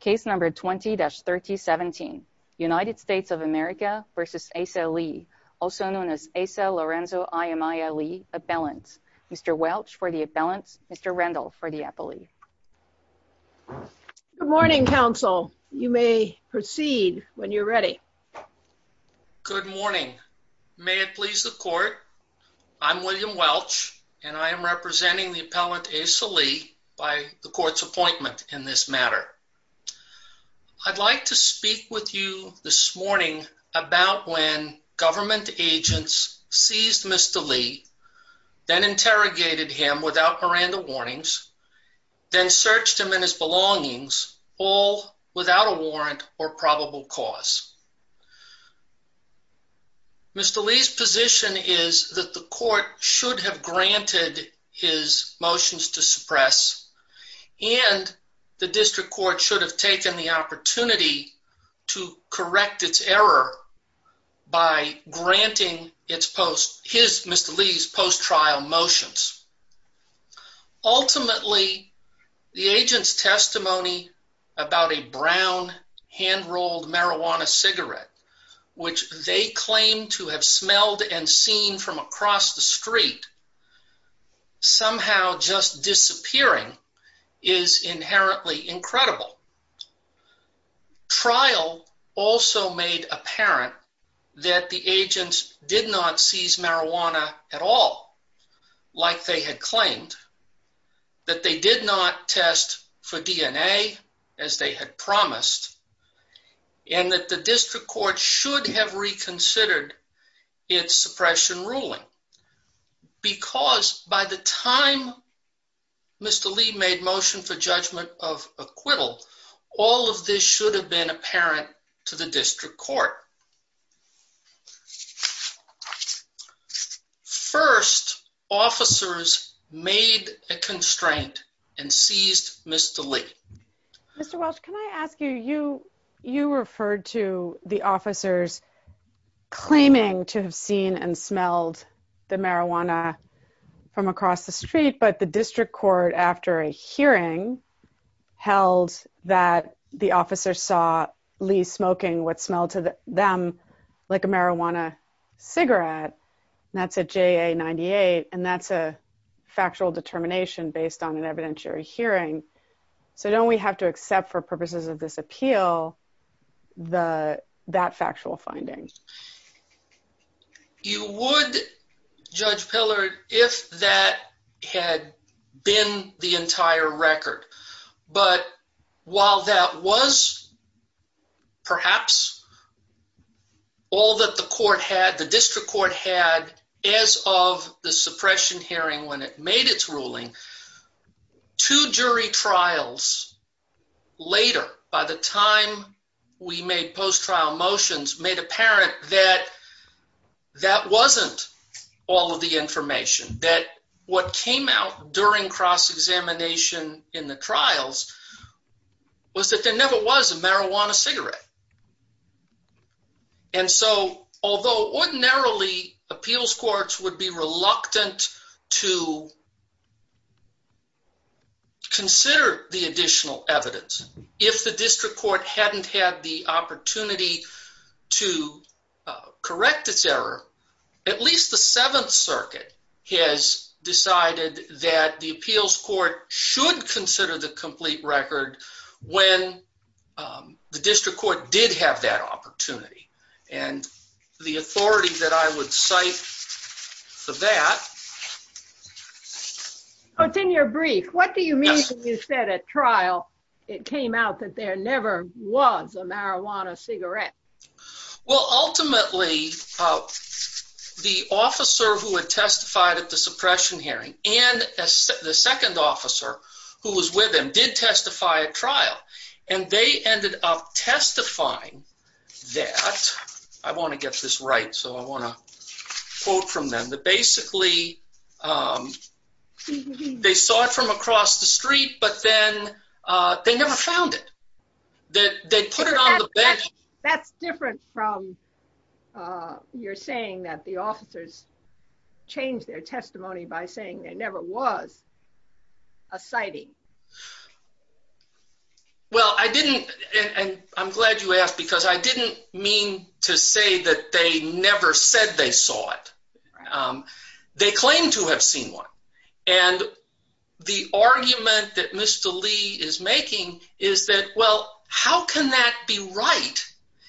case number 20-3017 United States of America versus Asa Lea also known as Asa Lorenzo I.M.I.A. Lea appellant. Mr. Welch for the appellant, Mr. Rendell for the appellee. Good morning counsel you may proceed when you're ready. Good morning may it please the court I'm William Welch and I am representing the I'd like to speak with you this morning about when government agents seized Mr. Lea then interrogated him without Miranda warnings then searched him in his belongings all without a warrant or probable cause. Mr. Lea's position is that the court should have granted his motions to suppress and the district court should have taken the opportunity to correct its error by granting its post his Mr. Lea's post trial motions. Ultimately, the agent's testimony about a brown hand rolled marijuana cigarette which they claim to have smelled and seen from across the street somehow just disappearing is inherently incredible. Trial also made apparent that the agent did not seize marijuana at all like they had claimed that they did not test for DNA as they had promised and that the district court should have reconsidered its suppression ruling because by the time Mr. Lee made motion for judgment of acquittal, all of this should have been apparent to the district court. First officers made a constraint and seized Mr. Lee. Mr Welch, can I ask you you referred to the officers claiming to have seen and smelled the marijuana from across the street but the district court after a hearing held that the officer saw Lee smoking what smelled to them like a marijuana cigarette. That's a JA 98 and that's a factual determination based on an evidentiary hearing. So don't we have to accept for purposes of this appeal the that factual findings? You would judge Pillar if that had been the entire record. But while that was perhaps all that the court had, the district court had as of the suppression hearing when it made its ruling to jury trials later, by the time we made post trial motions made apparent that that wasn't all of the information that what came out during cross examination in the trials was that there never was a marijuana cigarette. Yeah. And so, although ordinarily appeals courts would be reluctant to consider the additional evidence if the district court hadn't had the opportunity to correct its error, at least the Seventh Circuit has decided that the appeals court should consider the complete record when, um, the did have that opportunity and the authority that I would cite for that. It's in your brief. What do you mean? You said at trial, it came out that there never was a marijuana cigarette. Well, ultimately, the officer who had testified at the suppression hearing and the second officer who was with him did testify at trial, and they ended up testifying that I want to get this right. So I wanna quote from them that basically, um, they saw it from across the street, but then they never found it that they put it on. That's different from, uh, you're saying that the officers changed their testimony by saying there never was a sighting. Well, I didn't, and I'm glad you asked because I didn't mean to say that they never said they saw it. Um, they claim to have seen one. And the argument that Mr Lee is making is that, well, how can that be right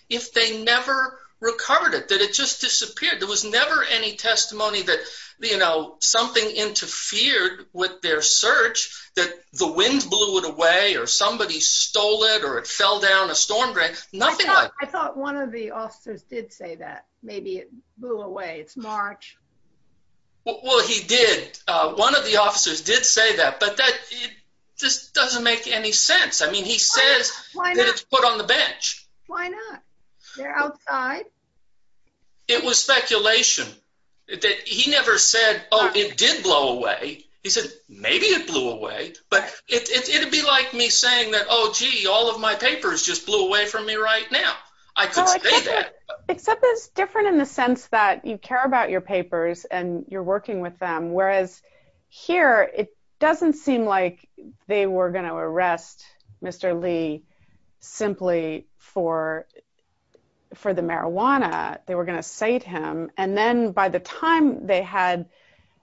if they never recovered it? That it just disappeared. There was never any testimony that, you know, something interfered with their search, that the wind blew it away, or somebody stole it, or it fell down a storm drain. Nothing like that. I thought one of the officers did say that. Maybe it blew away. It's March. Well, he did. One of the officers did say that, but that just doesn't make any sense. I mean, he says why not put on the bench? Why not? They're outside. It was speculation that he never said, Oh, it did blow away. He said, Maybe it blew away. But it would be like me saying that. Oh, gee, all of my papers just blew away from me right now. I could say that. Except it's different in the sense that you care about your papers and you're working with them. Whereas here it doesn't seem like they were going to arrest Mr Lee simply for for the marijuana. They were going to say to him. And then by the time they had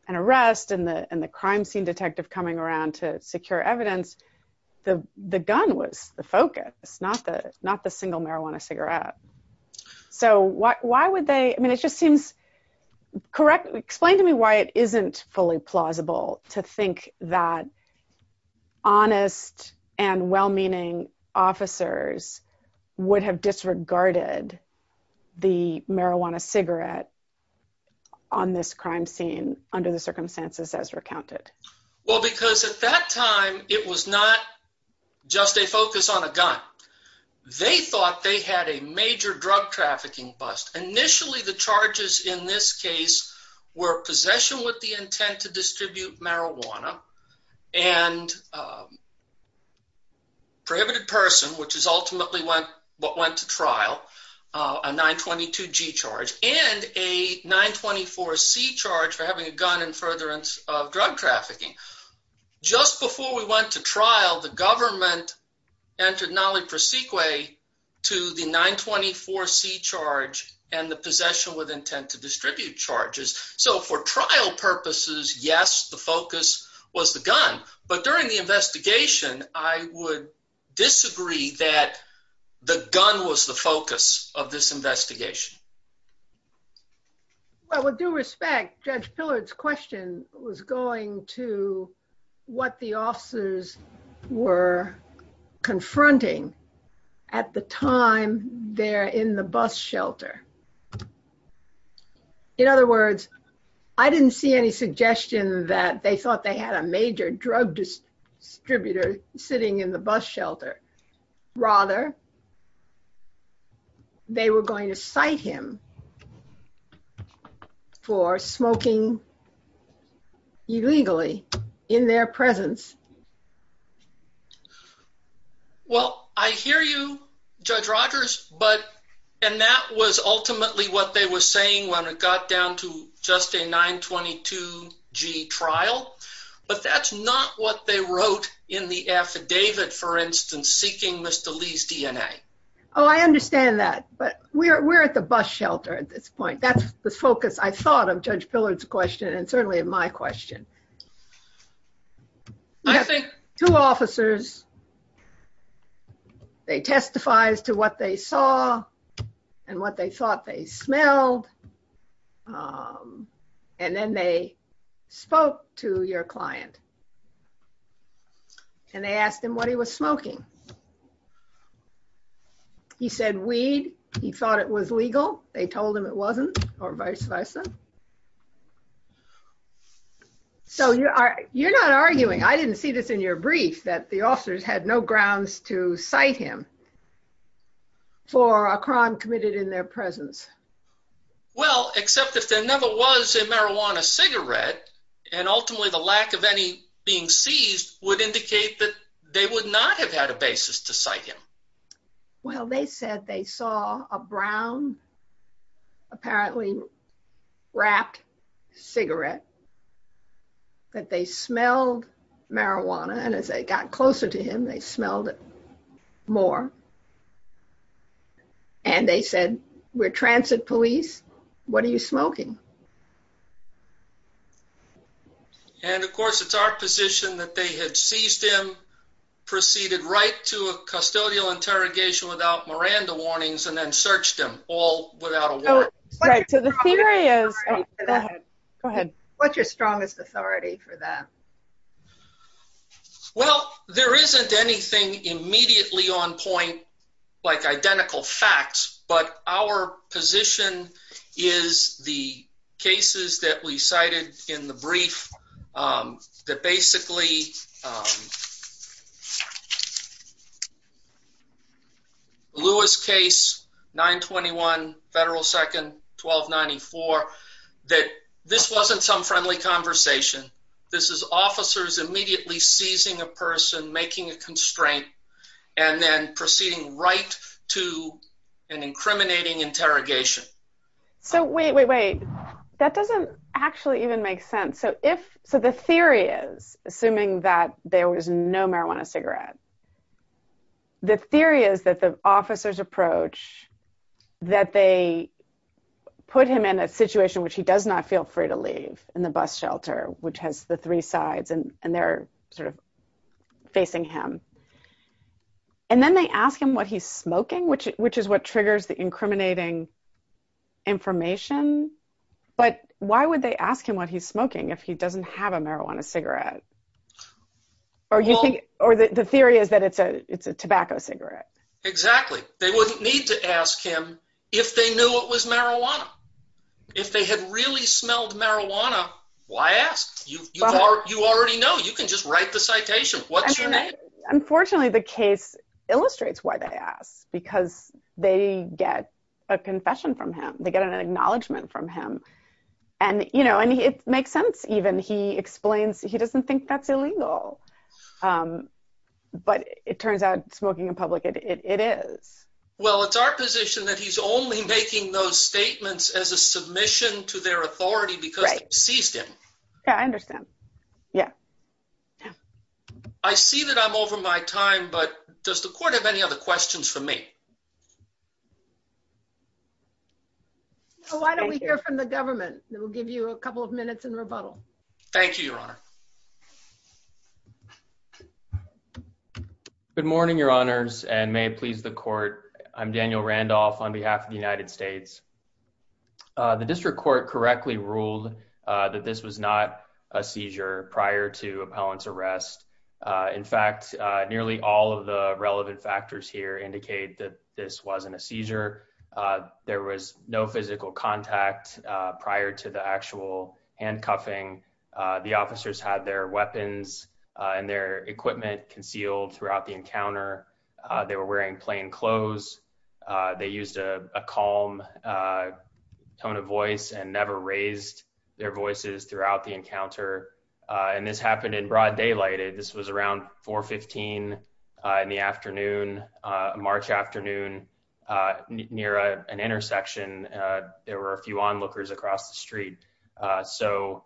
an arrest and the crime scene detective coming around to secure evidence, the gun was the focus, not the single marijuana cigarette. So why would they? I mean, it just seems correct. Explain to me why it isn't fully plausible to think that honest and well meaning officers would have disregarded the marijuana cigarette on this crime scene under the circumstances as recounted. Well, because at that time it was not just a focus on a gun. They thought they had a major drug trafficking bust. Initially, the charges in this case were possession with the intent to distribute marijuana and, uh, person, which is ultimately what went to trial a 9 22 G charge and a 9 24 C charge for having a gun in furtherance of drug trafficking. Just before we went to trial, the government entered Nali Prasik way to the 9 24 C charge and the possession with intent to distribute charges. So for trial purposes, yes, the focus was the gun. But during the investigation, I would disagree that the gun was the focus of this investigation. Well, with due respect, Judge Pillard's question was going to what the officers were confronting at the time there in the bus shelter. In other words, I didn't see any suggestion that they thought they had a shelter. Rather, they were going to cite him for smoking illegally in their presence. Well, I hear you, Judge Rogers. But and that was ultimately what they were saying when it got down to just a 9 22 G trial. But that's not what they wrote in the affidavit, for instance, seeking Mr Lee's DNA. Oh, I understand that. But we're at the bus shelter at this point. That's the focus. I thought of Judge Pillard's question and certainly in my question. I think two officers, they testifies to what they saw and what they thought they smelled. Um, and then they spoke to your client. And they asked him what he was smoking. He said weed. He thought it was legal. They told him it wasn't or vice versa. So you are. You're not arguing. I didn't see this in your brief that the officers had no grounds to cite him for a crime committed in their presence. Well, except if there never was a case that they would not have had a basis to cite him. Well, they said they saw a brown, apparently wrapped cigarette that they smelled marijuana. And as I got closer to him, they smelled it more. And they said, We're transit police. What are you smoking? And, of course, it's our position that they had seized him, proceeded right to a custodial interrogation without Miranda warnings and then searched him all without a word. Right. So the theory is go ahead. What's your strongest authority for that? Well, there isn't anything immediately on point like identical facts. But our position is the cases that we cited in the brief. Um, that basically, um, Lewis case 9 21 Federal 2nd 12 94 that this wasn't some friendly conversation. This is officers immediately seizing a person making a constraint and then proceeding right to an incriminating interrogation. So wait, wait, wait. That doesn't actually even make sense. So if so, the theory is assuming that there was no marijuana cigarette, the theory is that the officers approach that they put him in a situation which he does not feel free to leave in the bus shelter, which has the three sides and they're sort of facing him. And then they ask him what he's smoking, which which is what triggers the incriminating information. But why would they ask him what he's smoking if he doesn't have a marijuana cigarette? Are you think or the theory is that it's a it's a tobacco cigarette? Exactly. They wouldn't need to ask him if they knew it was marijuana. If they had really smelled marijuana last you are, you already know you can just write the Unfortunately, the case illustrates why they ask because they get a confession from him. They get an acknowledgement from him. And, you know, and it makes sense. Even he explains he doesn't think that's illegal. But it turns out smoking a public it is. Well, it's our position that he's only making those statements as a submission to their authority because seized him. I understand. Yeah. Yeah, I see that I'm over my time. But does the court have any other questions for me? Why don't we hear from the government that will give you a couple of minutes and rebuttal. Thank you, Your Honor. Good morning, Your Honors and may please the court. I'm Daniel Randolph on behalf of the United States. The district court correctly ruled that this was not a seizure prior to appellant's arrest. In fact, nearly all of the relevant factors here indicate that this wasn't a seizure. There was no physical contact prior to the actual handcuffing. The officers had their weapons and their equipment concealed throughout the encounter. They were wearing plain clothes. They used a calm tone of voice and never raised their voices throughout the encounter. And this happened in broad daylight. This was around 4 15 in the afternoon, March afternoon near an intersection. There were a few onlookers across the street. So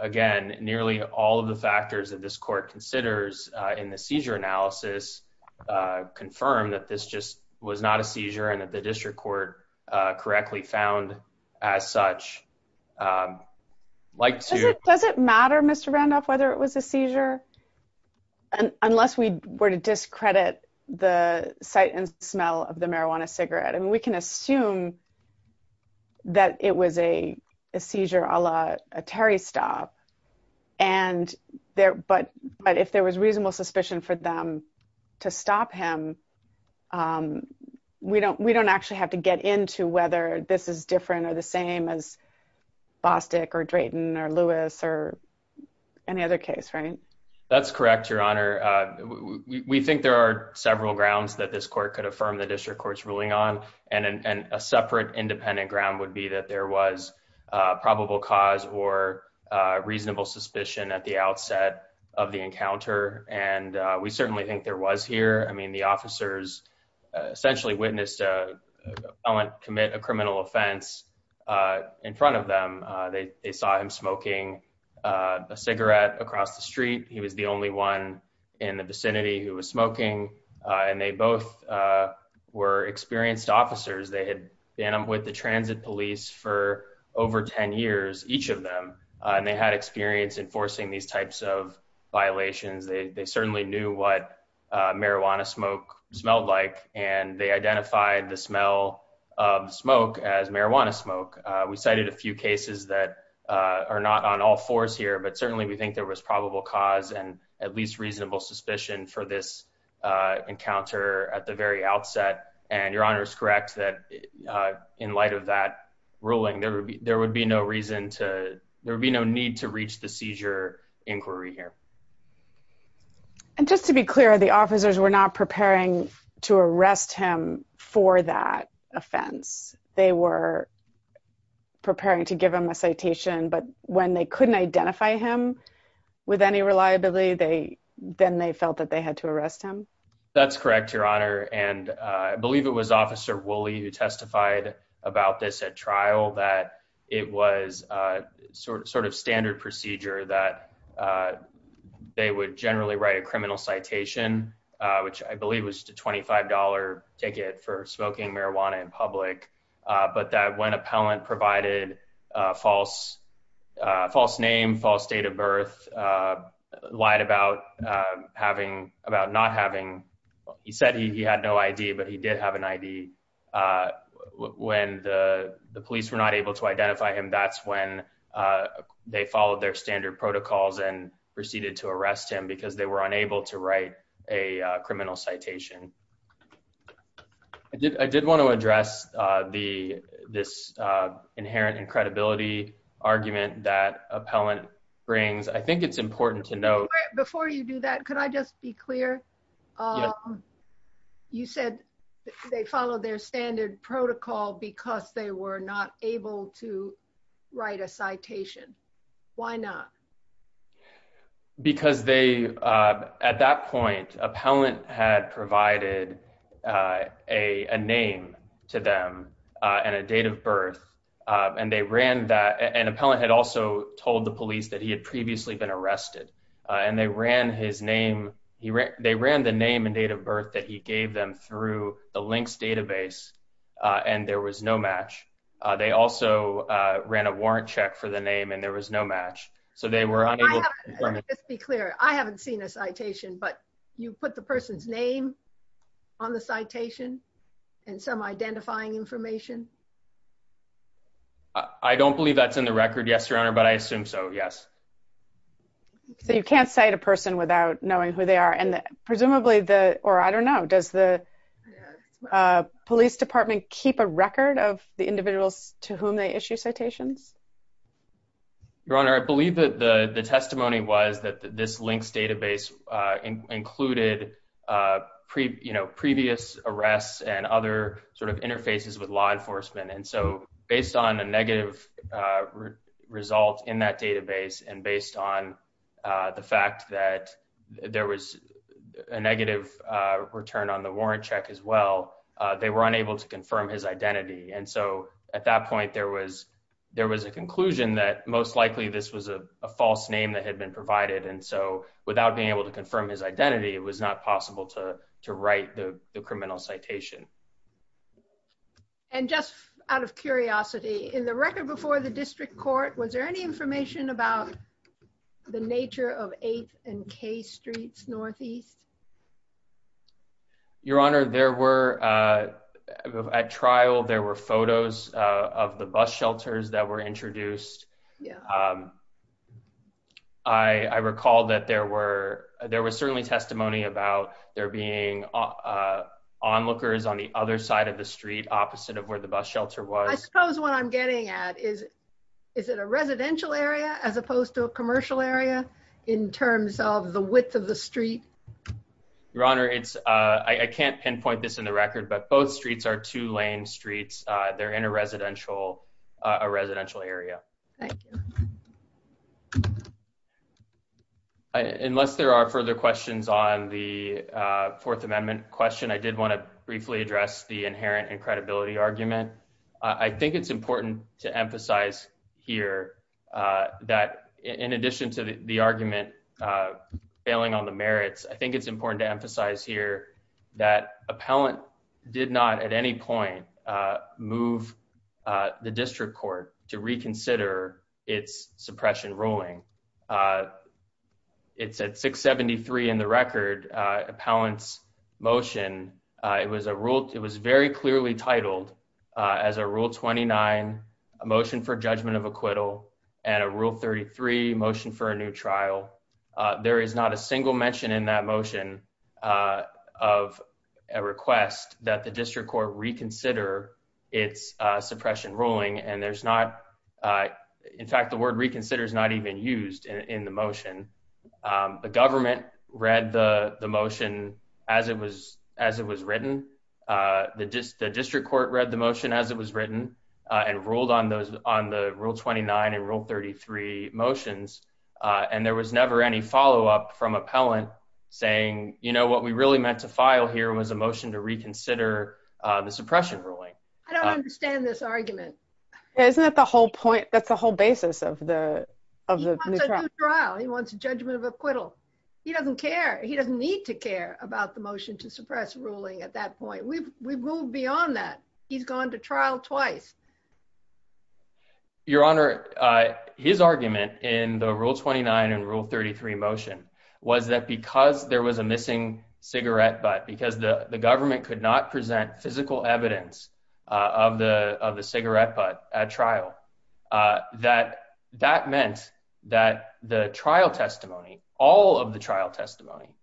again, nearly all of the factors that this court considers in the seizure analysis confirmed that this just was not a seizure and that the district court correctly found as such, like to does it matter, Mr Randolph, whether it was a seizure unless we were to discredit the sight and smell of the marijuana cigarette. And we can assume that it was a seizure a la Terry stop. And there but but if there was reasonable suspicion for them to stop him, um, we don't. We don't actually have to get into whether this is different or the same as Bostick or Drayton or Lewis or any other case, right? That's correct, Your Honor. We think there are several grounds that this court could affirm the district court's ruling on and a separate independent ground would be that there was probable cause or reasonable suspicion at the outset of the officers essentially witnessed. I want to commit a criminal offense in front of them. They saw him smoking a cigarette across the street. He was the only one in the vicinity who was smoking on. They both were experienced officers. They had been with the transit police for over 10 years, each of them on. They had experience enforcing these types of violations. They certainly knew what marijuana smoke smelled like, and they identified the smell of smoke as marijuana smoke. We cited a few cases that are not on all fours here, but certainly we think there was probable cause and at least reasonable suspicion for this encounter at the very outset. And Your Honor is correct that in light of that ruling, there would be there would be no reason to there would be no need to reach the seizure inquiry here. And just to be clear, the officers were not preparing to arrest him for that offense. They were preparing to give him a citation. But when they couldn't identify him with any reliability, they then they felt that they had to arrest him. That's correct, Your Honor. And I believe it was Officer Willie who testified about this at trial that it was sort of sort of standard procedure that they would generally write a criminal citation, which I believe was a $25 ticket for smoking marijuana in public. But that when appellant provided false false name, false date of birth, lied about having about not having he said he had no idea, but he did have an I. D. Uh, when the police were not able to identify him, that's when, uh, they followed their standard protocols and proceeded to arrest him because they were unable to write a criminal citation. I did. I did want to address the this, uh, inherent and credibility argument that appellant brings. I think it's important to know before you do that. Could I just be clear? Um, you said they followed their standard protocol because they were not able to write a citation. Why not? Because they, uh, at that point, appellant had provided, uh, a name to them on a date of birth on day ran that an appellant had also told the police that he had previously been arrested on. They ran his name. They ran the name and date of birth that he gave them through the links database on. There was no match. They also ran a warrant check for the name, and there was no match. So they were unable to be clear. I haven't seen a citation, but you put the person's name on the citation and some identifying information. I don't believe that's in the record. Yes, your honor. But I assume so. Yes. So you can't cite a person without knowing who they are. And presumably the or I don't know, does the, uh, police department keep a record of the individuals to whom they issue citations? Your honor, I believe that the testimony was that this links database, uh, included, uh, you know, previous arrests and other sort of interfaces with law enforcement. And so based on a negative, uh, result in that database and based on, uh, the fact that there was a negative return on the warrant check as well, they were unable to confirm his identity. And so at that point, there was there was a conclusion that most likely this was a false name that had been provided. And so without being able to confirm his identity, it was not possible to write the criminal citation. And just out of curiosity in the record before the district court, was there any information about the nature of eighth and K streets northeast? Your honor, there were, uh, at trial, there were photos of the bus shelters that were introduced. Um, I recall that there were there was certainly testimony about there being, uh, onlookers on the other side of the street, opposite of where the bus shelter was. I suppose what I'm getting at is, is it a residential area as opposed to a commercial area in terms of the width of the street? Your honor, it's I can't pinpoint this in the record, but both streets are two lane streets. They're in a residential, a residential area. Thank you. Unless there are further questions on the Fourth Amendment question, I did want to briefly address the inherent and credibility argument. I think it's important to emphasize here that in addition to the argument, uh, failing on the merits, I think it's important to emphasize here that appellant did not at any point move the district court to reconsider its suppression ruling. Uh, it's at 6 73 in the record. Appellants motion. It was a rule. It was very clearly titled as a rule 29 motion for judgment of acquittal and a rule 33 motion for a new trial. There is not a single mention in that motion, uh, of a request that the district court reconsider its suppression ruling. And there's not, uh, in fact, the word reconsider is not even used in the motion. Um, the government read the motion as it was, as it was written. Uh, the district court read the motion as it was written and ruled on those on the rule 29 and rule 33 motions. Uh, and there was never any follow up from appellant saying, you know what we really meant to file here was a motion to reconsider the suppression ruling. I don't understand this argument. Isn't that the whole point? That's the whole basis of the of the trial. He wants a judgment of acquittal. He doesn't care. He doesn't need to care about the motion to suppress ruling. At that point, we've we've moved beyond that. He's gone to trial twice. Your Honor, his argument in the rule 29 and rule 33 motion was that because there was a missing cigarette butt because the government could not present physical evidence of the of the cigarette butt at trial, uh, that that meant that the trial testimony, all of the trial testimony,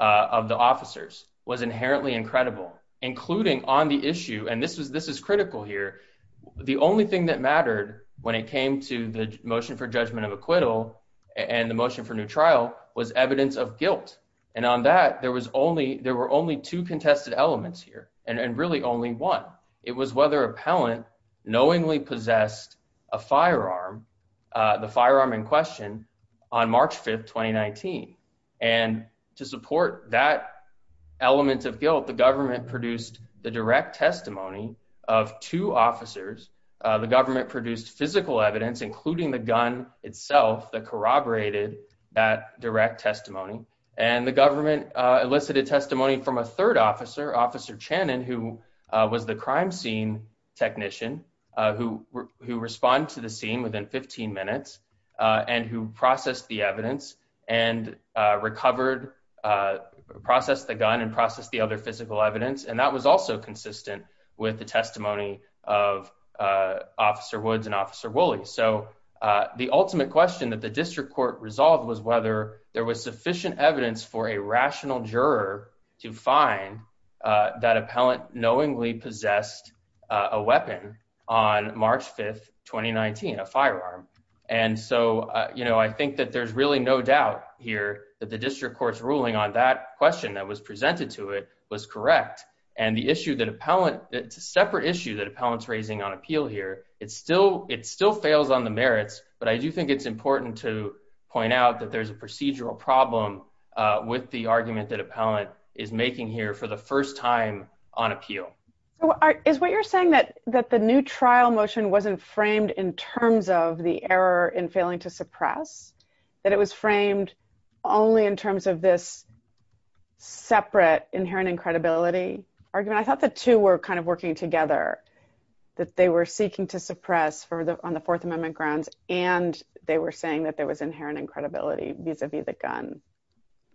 uh, of the officers was inherently incredible, including on the issue. And this was this is critical here. The only thing that mattered when it came to the motion for judgment of acquittal and the motion for new trial was evidence of guilt. And on that there was only there were only two contested elements here and really only one. It was whether appellant knowingly possessed a firearm in question on March 5th, 2019. And to support that element of guilt, the government produced the direct testimony of two officers. The government produced physical evidence, including the gun itself that corroborated that direct testimony, and the government elicited testimony from a third officer, Officer Channon, who was the crime scene technician who who respond to the scene within 15 minutes on who processed the evidence and recovered, uh, processed the gun and processed the other physical evidence. And that was also consistent with the testimony of, uh, Officer Woods and Officer Wooley. So, uh, the ultimate question that the district court resolved was whether there was sufficient evidence for a rational juror to find that appellant knowingly possessed a weapon on March 5th, 2019 a firearm. And so, you know, I think that there's really no doubt here that the district court's ruling on that question that was presented to it was correct. And the issue that appellant it's a separate issue that appellants raising on appeal here. It's still it still fails on the merits, but I do think it's important to point out that there's a procedural problem with the appellant is making here for the first time on appeal is what you're saying that that the new trial motion wasn't framed in terms of the error in failing to suppress that it was framed only in terms of this separate inherent incredibility argument. I thought the two were kind of working together that they were seeking to suppress for the on the Fourth Amendment grounds, and they were saying that there was inherent incredibility vis a vis the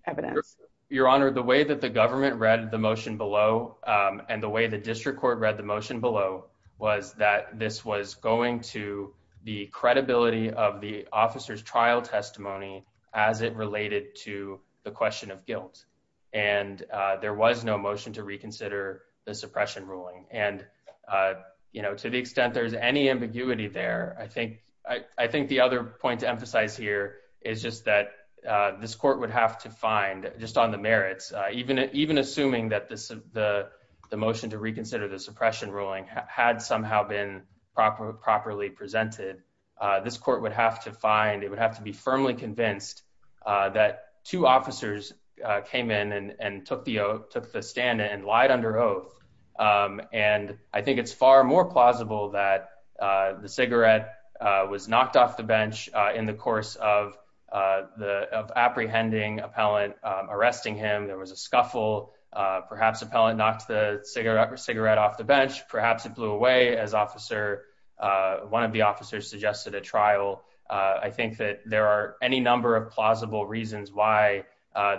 evidence. Your Honor, the way that the government read the motion below and the way the district court read the motion below was that this was going to the credibility of the officer's trial testimony as it related to the question of guilt. And there was no motion to reconsider the suppression ruling. And you know, to the extent there's any ambiguity there, I think I think the other point to emphasize here is just that this court would have to find just on the merits, even even assuming that this the motion to reconsider the suppression ruling had somehow been proper properly presented, this court would have to find it would have to be firmly convinced that two officers came in and took the took the stand and lied under oath. And I think it's far more plausible that the cigarette was knocked off the bench in the course of the apprehending appellant arresting him. There was a scuffle. Perhaps appellant knocked the cigarette or cigarette off the bench. Perhaps it blew away as officer one of the officers suggested a trial. I think that there are any number of plausible reasons why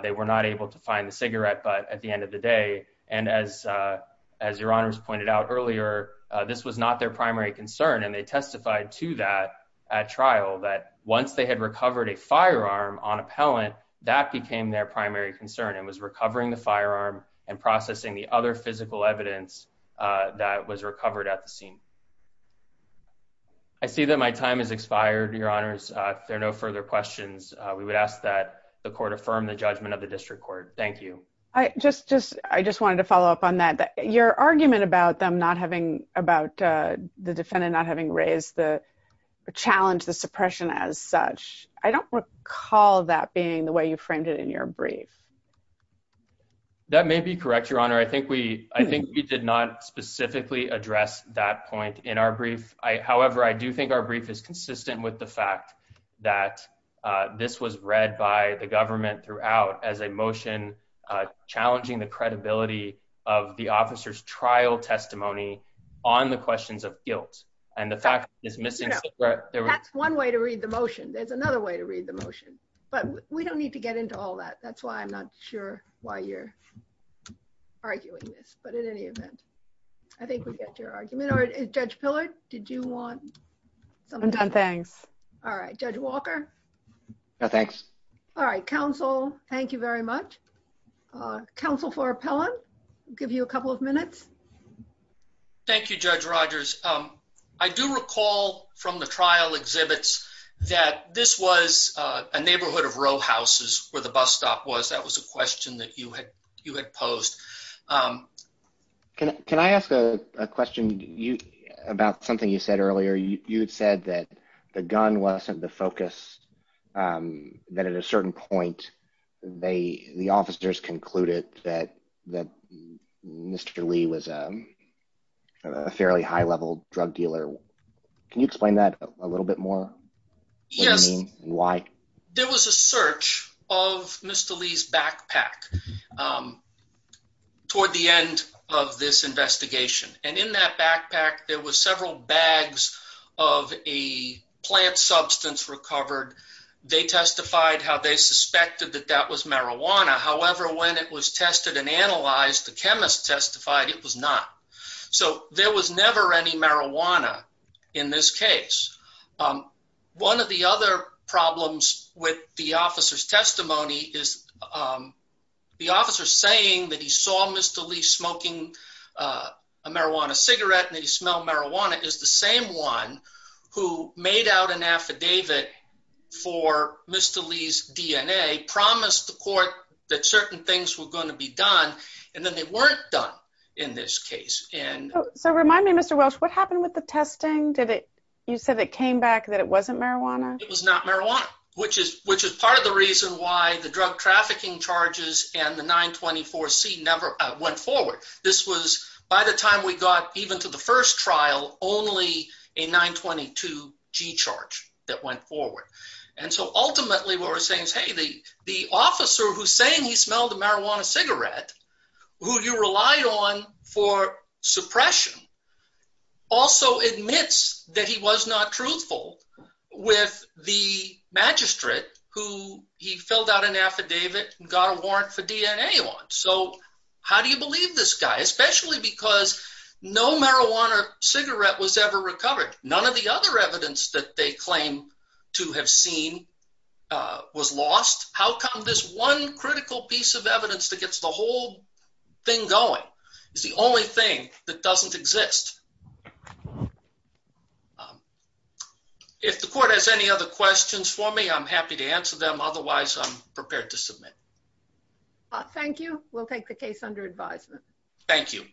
they were not able to find the cigarette. But at the end of the day, and as as your honors pointed out earlier, this was not their primary concern. And they testified to that at trial that once they had recovered a firearm on appellant, that became their primary concern and was recovering the firearm and processing the other physical evidence that was recovered at the scene. I see that my time has expired, your honors. If there are no further questions, we would ask that the court affirm the judgment of the district court. Thank you. I just just I just wanted to follow up on that your argument about them not having about the defendant not having raised the challenge the suppression as such. I don't recall that being the way you framed it in your brief. That may be correct, your honor. I think we I think we did not specifically address that point in our brief. I however, I do think our brief is consistent with the fact that this was read by the government throughout as a on the questions of guilt. And the fact is missing. That's one way to read the motion. There's another way to read the motion. But we don't need to get into all that. That's why I'm not sure why you're arguing this. But in any event, I think we get your argument or judge pillared. Did you want something done? Thanks. All right, Judge Walker. Thanks. All right, counsel. Thank you very much. Council for appellant. Give you a couple of minutes. Thank you, Judge Rogers. Um, I do recall from the trial exhibits that this was a neighborhood of row houses where the bus stop was. That was a question that you had you had posed. Um, can I ask a question about something you said earlier? You said that the gun wasn't the focus. Um, that at a fairly high level drug dealer. Can you explain that a little bit more? Yes. Why? There was a search of Mr Lee's backpack, um, toward the end of this investigation. And in that backpack, there was several bags of a plant substance recovered. They testified how they suspected that that was marijuana. However, when it was tested and analyzed, the chemist testified it was not. So there was never any marijuana in this case. Um, one of the other problems with the officer's testimony is, um, the officer saying that he saw Mr Lee smoking, uh, marijuana cigarette and he smelled marijuana is the same one who made out an affidavit for Mr Lee's DNA promised the court that certain things were going to be done. And then they weren't done in this case. And so remind me, Mr Welsh, what happened with the testing? Did it? You said it came back that it wasn't marijuana. It was not marijuana, which is which is part of the reason why the drug trafficking charges and the 9 24 C never went forward. This was by the time we got even to the first trial, only a 9 22 G charge that went forward. And so ultimately, what we're saying is, Hey, the the officer who's saying he smelled the marijuana cigarette who you relied on for suppression also admits that he was not truthful with the magistrate who he filled out an affidavit and got a warrant for DNA on. So how do you believe this guy? Especially because no marijuana cigarette was ever recovered. None of the other evidence that they claim to have seen was lost. How come this one critical piece of evidence that gets the whole thing going is the only thing that doesn't exist. Um, if the court has any other questions for me, I'm happy to answer them. Otherwise, I'm prepared to submit. Thank you. We'll take the case under advisement. Thank you.